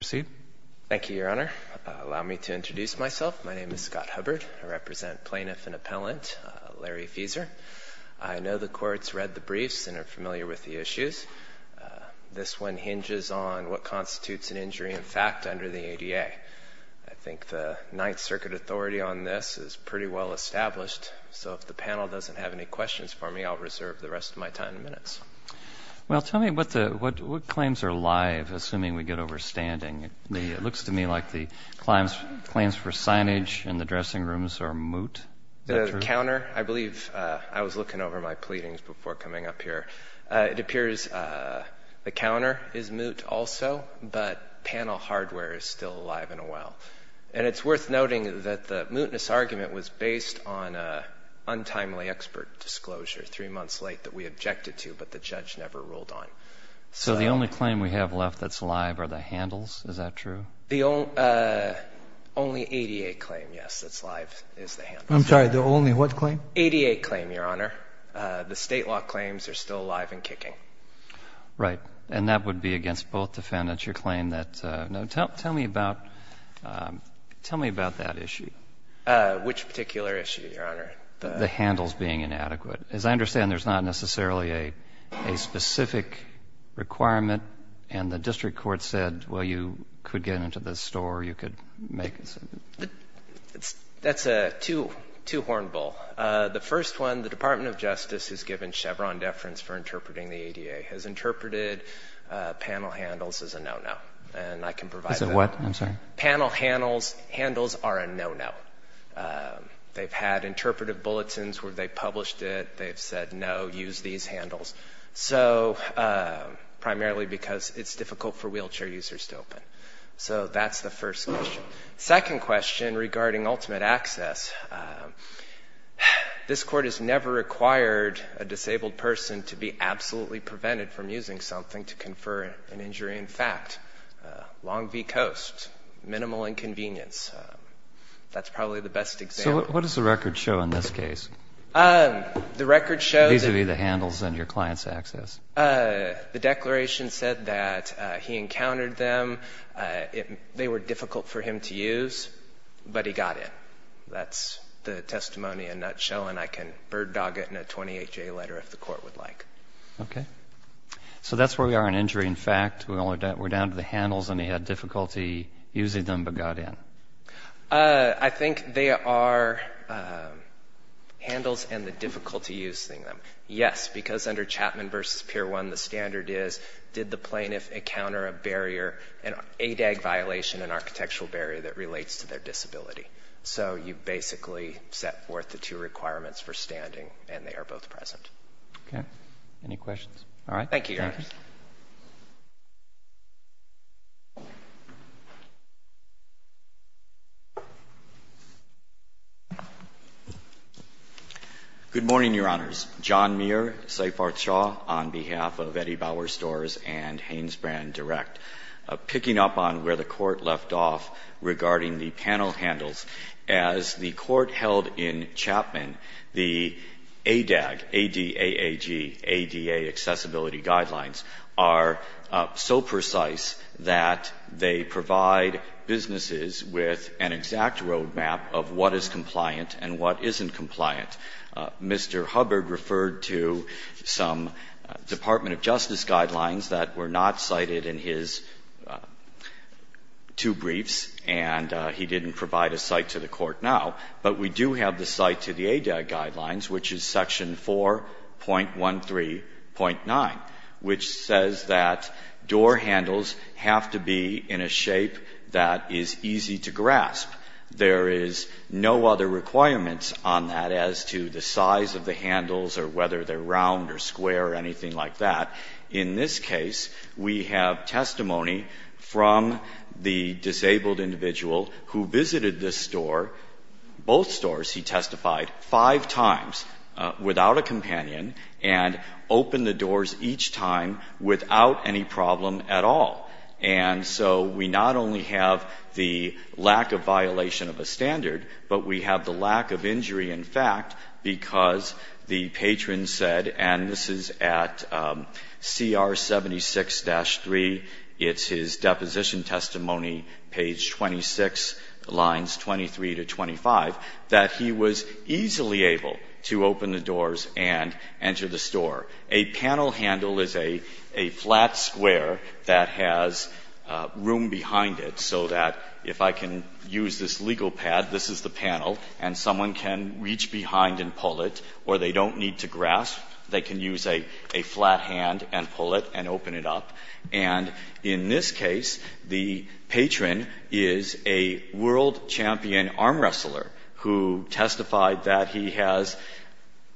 Thank you, Your Honor. Allow me to introduce myself. My name is Scott Hubbard. I represent Plaintiff and Appellant Lary Feezor. I know the courts read the briefs and are familiar with the issues. This one hinges on what constitutes an injury in fact under the ADA. I think the Ninth Circuit authority on this is pretty well established, so if the panel doesn't have any questions for me, I'll reserve the rest of my time and minutes. Well, tell me what claims are live, assuming we get overstanding. It looks to me like the claims for signage in the dressing rooms are moot. The counter, I believe, I was looking over my pleadings before coming up here. It appears the counter is moot also, but panel hardware is still alive and well. And it's worth noting that the mootness argument was based on an untimely expert disclosure three months late that we objected to, but the judge never ruled on. So the only claim we have left that's live are the handles, is that true? Only ADA claim, yes, that's live is the handle. I'm sorry, the only what claim? ADA claim, Your Honor. The state law claims are still alive and kicking. Right. And that would be against both defendants, your claim that no. Tell me about that issue. Which particular issue, Your Honor? The handles being inadequate. As I understand, there's not necessarily a specific requirement, and the district court said, well, you could get into the store, you could make it. That's a two-horned bull. The first one, the Department of Justice has given Chevron deference for interpreting the ADA, has interpreted panel handles as a no-no. And I can provide that. As a what? I'm sorry. Panel handles are a no-no. They've had interpretive bulletins where they've published it, they've said no, use these handles. So, primarily because it's difficult for wheelchair users to open. So that's the first question. Second question regarding ultimate access. This court has never required a disabled person to be absolutely prevented from using something to confer an injury. In fact, long v. coast, minimal inconvenience. That's probably the best example. So what does the record show in this case? The record shows that These would be the handles and your client's access. The declaration said that he encountered them, they were difficult for him to use, but he got in. That's the testimony in a nutshell, and I can bird dog it in a 28-J letter if the court would like. So that's where we are on injury. In fact, we're down to the handles and he had difficulty using them but got in. I think they are handles and the difficulty using them. Yes, because under Chapman v. Pier 1, the standard is did the plaintiff encounter a barrier, an ADAG violation, an architectural barrier that relates to their disability. So you basically set forth the requirements for standing, and they are both present. Okay. Any questions? All right. Thank you, Your Honors. Good morning, Your Honors. John Muir, Seifarth Shaw, on behalf of Eddie Bauer Storrs and Hanesbrand Direct. Picking up on where the Court left off regarding the panel handles, as the Court held in Chapman, the ADAG, A-D-A-A-G, ADA accessibility guidelines are so precise that they provide businesses with an exact road map of what is compliant and what isn't compliant. Mr. Hubbard referred to some Department of Justice guidelines that were not cited in his two briefs, and he didn't provide a cite to the Court now. But we do have the cite to the ADAG guidelines, which is section 4.13.9, which says that door handles have to be in a shape that is easy to grasp. There is no other requirements on that as to the size of the handles or whether they're round or square or anything like that. In this case, we have testimony from the disabled individual who visited this store, both stores, he testified, five times without a companion and opened the doors each time without any problem at all. And so we not only have the lack of violation of a standard, but we have the lack of injury in fact because the patron said, and this is at CR 76-3, it's his deposition testimony, page 26, lines 23 to 25, that he was easily able to open the doors and enter the store. A panel handle is a flat square that has room behind it so that if I can use this legal pad, this is the panel, and someone can reach behind and pull it, or they don't need to grasp, they can use a flat hand and pull it and open it up. And in this case, the patron is a world champion arm wrestler who testified that he has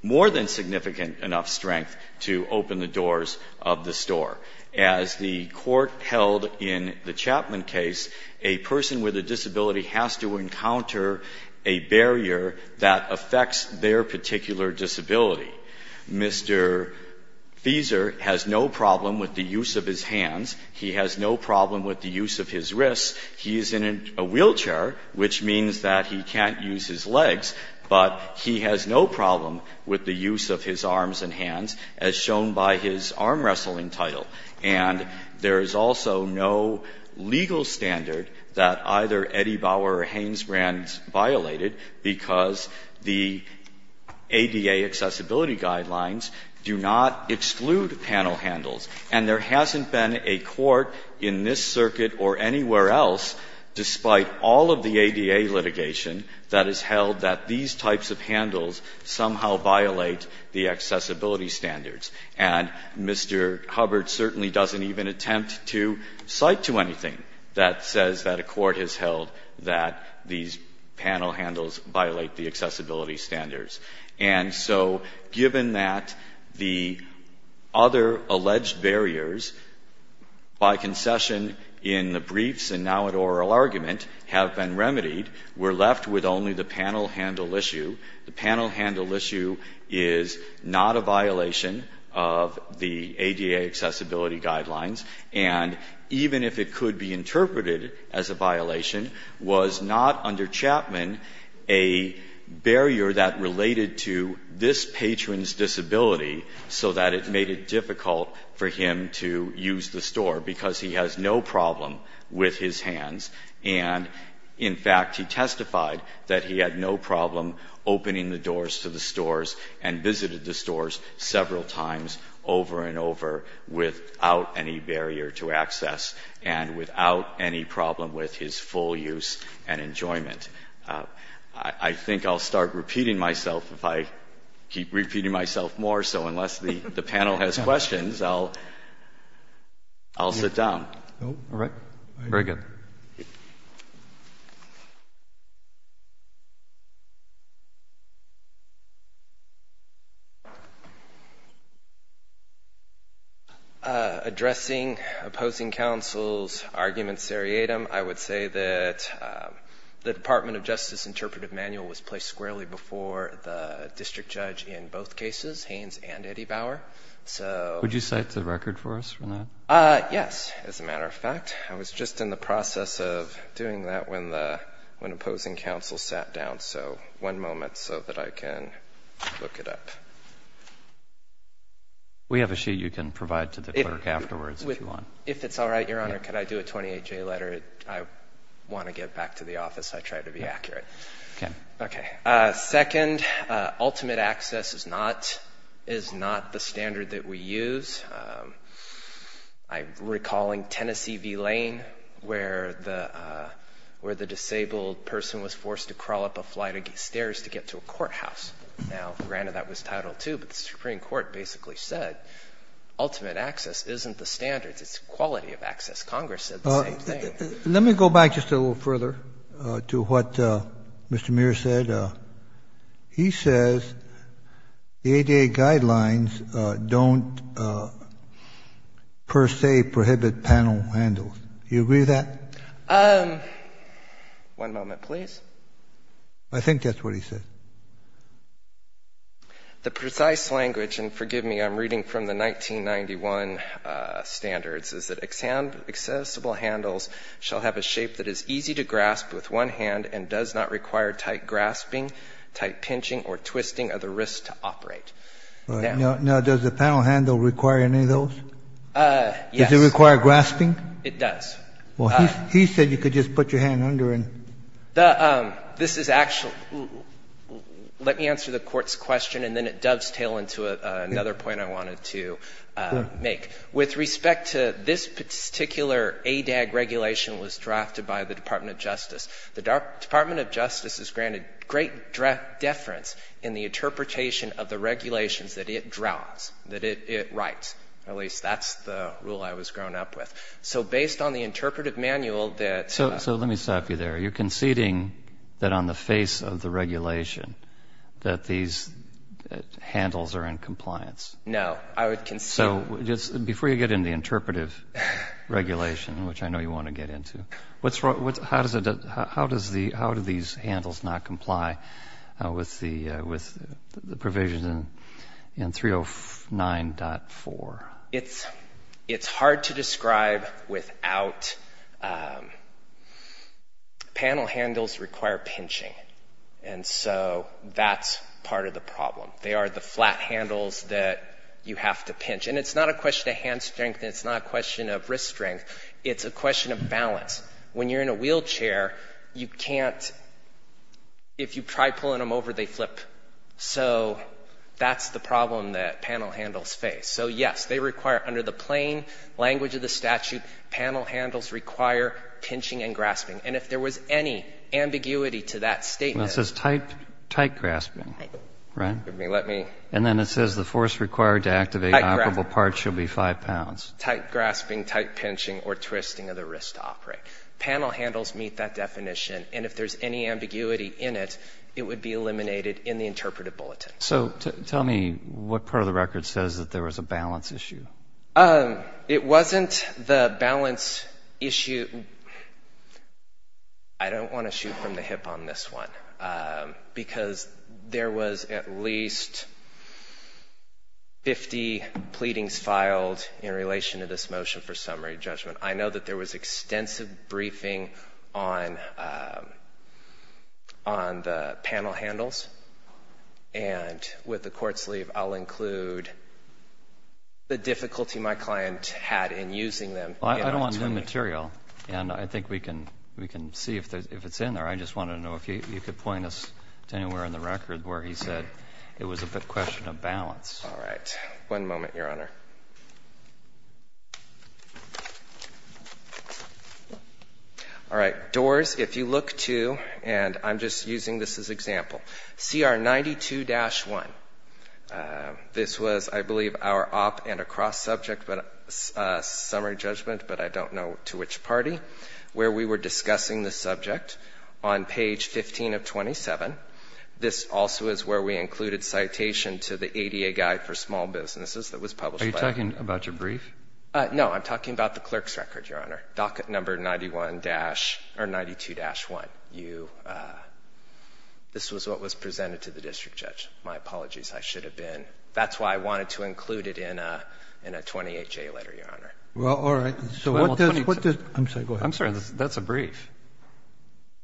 more than significant enough strength to open the doors of the store. As the Court held in the Chapman case, a person with a disability has to encounter a barrier that affects their particular disability. Mr. Fieser has no problem with the use of his hands. He has no problem with the use of his wrists. He is in a wheelchair, which means that he can't use his legs, but he has no problem with the use of his arms and hands, as shown by his arm wrestling title. And there is also no legal standard that either Eddie Bauer or Hanesbrand violated because the ADA accessibility guidelines do not exclude panel handles. And there hasn't been a court in this circuit or anywhere else, despite all of the ADA litigation, that has held that these types of handles somehow violate the accessibility standards. And Mr. Hubbard certainly doesn't even attempt to cite to anything that says that a court has held that these panel handles violate the accessibility standards. And so given that the other alleged barriers, by concession in the briefs and now at oral argument, have been remedied, we're left with only the panel handle issue. The panel handle issue is not a violation of the ADA accessibility guidelines. And even if it could be interpreted as a violation, was not under Chapman a barrier that related to this patron's disability so that it made it difficult for him to use the store, because he has no problem with his hands. And in fact, he testified that he had no problem opening the doors to the stores and visited the stores several times over and over without any barrier to access and without any problem with his full use and enjoyment. I think I'll start repeating myself if I keep repeating myself more. So unless the panel has questions, I'll sit down. All right. Very good. Addressing opposing counsel's argument seriatim, I would say that the Department of Justice interpretive manual was placed squarely before the district judge in both cases, Haynes and Eddie Bauer. Would you cite the record for us for that? Yes. As a matter of fact, I was just in the process of doing that when the opposing counsel sat down. So one moment so that I can look it up. We have a sheet you can provide to the clerk afterwards if you want. If it's all right, Your Honor, could I do a 28-J letter? I want to get back to the office. I try to be accurate. Okay. Okay. Second, ultimate access is not the standard that we use. I'm recalling Tennessee v. Lane where the disabled person was forced to crawl up a flight of stairs to get to a courthouse. Now, granted, that was Title II, but the Supreme Court basically said ultimate access isn't the standard. It's quality of access. Congress said the same thing. Let me go back just a little further to what Mr. Muir said. He says the ADA guidelines don't per se prohibit panel handles. Do you agree with that? One moment, please. I think that's what he said. The precise language, and forgive me, I'm reading from the 1991 standards, is that accessible panel handles shall have a shape that is easy to grasp with one hand and does not require tight grasping, tight pinching or twisting of the wrist to operate. Now, does the panel handle require any of those? Yes. Does it require grasping? It does. Well, he said you could just put your hand under and. This is actually let me answer the Court's question and then it dovetails into another point I wanted to make. With respect to this particular ADAG regulation that was drafted by the Department of Justice, the Department of Justice has granted great deference in the interpretation of the regulations that it draws, that it writes. At least that's the rule I was grown up with. So based on the interpretive manual that. So let me stop you there. You're conceding that on the face of the regulation that these handles are in compliance? No. I would concede. So just before you get into interpretive regulation, which I know you want to get into, how do these handles not comply with the provisions in 309.4? It's hard to describe without. Panel handles require pinching. And so that's part of the problem. They are the flat handles that you have to pinch. And it's not a question of hand strength and it's not a question of wrist strength. It's a question of balance. When you're in a wheelchair, you can't, if you try pulling them over, they flip. So that's the problem that panel handles face. So, yes, they require, under the plain language of the statute, panel handles require pinching and grasping. And if there was any ambiguity to that statement. Well, it says tight grasping, right? And then it says the force required to activate an operable part should be five pounds. Tight grasping, tight pinching, or twisting of the wrist to operate. Panel handles meet that definition. And if there's any ambiguity in it, it would be eliminated in the interpretive bulletin. So tell me what part of the record says that there was a balance issue. It wasn't the balance issue. I don't want to shoot from the hip on this one. Because there was at least 50 pleadings filed in relation to this motion for summary judgment. I know that there was extensive briefing on the panel handles. And with the court sleeve, I'll include the difficulty my client had in using them. Well, I don't want new material. And I think we can see if it's in there. I just wanted to know if you could point us to anywhere in the record where he said it was a question of balance. All right. One moment, Your Honor. All right. Doors, if you look to, and I'm just using this as an example, CR 92-1. This was, I believe, our op and a cross-subject summary judgment, but I don't know to which party, where we were discussing the subject on page 15 of 27. This also is where we included citation to the ADA guide for small businesses that was published. Are you talking about your brief? No, I'm talking about the clerk's record, Your Honor, docket number 91- or 92-1. This was what was presented to the district judge. My apologies. I should have been. That's why I wanted to include it in a 28-J letter, Your Honor. Well, all right. I'm sorry. Go ahead. I'm sorry. That's a brief.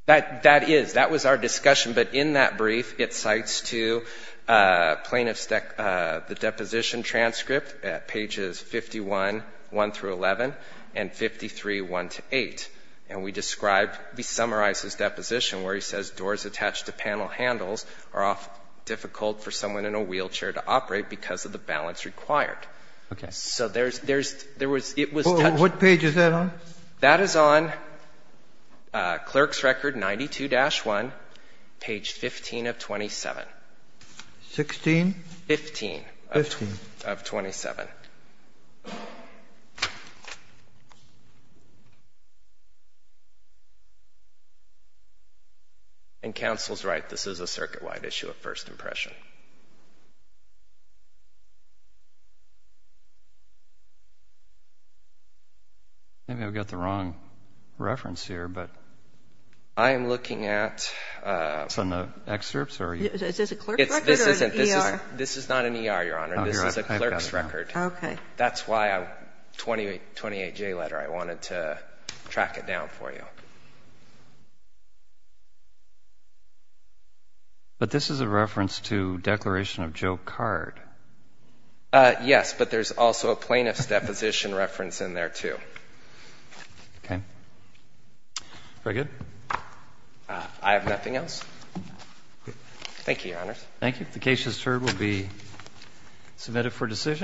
That is. That was our discussion. But in that brief, it cites to plaintiffs the deposition transcript at pages 51-1-11 and 53-1-8. And we described, we summarized his deposition where he says doors attached to panel handles are often difficult for someone in a wheelchair to operate because of the balance required. Okay. So there's, there's, there was, it was. What page is that on? That is on clerk's record 92-1, page 15 of 27. 16? 15. 15. Of 27. And counsel's right. This is a circuit-wide issue of first impression. Maybe I've got the wrong reference here, but I am looking at. Is this on the excerpts or are you? Is this a clerk's record or an ER? This isn't. This is, this is not an ER, Your Honor. Okay. I got it. I got it. Okay. That's why 28J letter, I wanted to track it down for you. But this is a reference to declaration of Joe Card. Yes, but there's also a plaintiff's deposition reference in there, too. Okay. Very good. I have nothing else. Thank you, Your Honors. Thank you. The case, as heard, will be submitted for decision.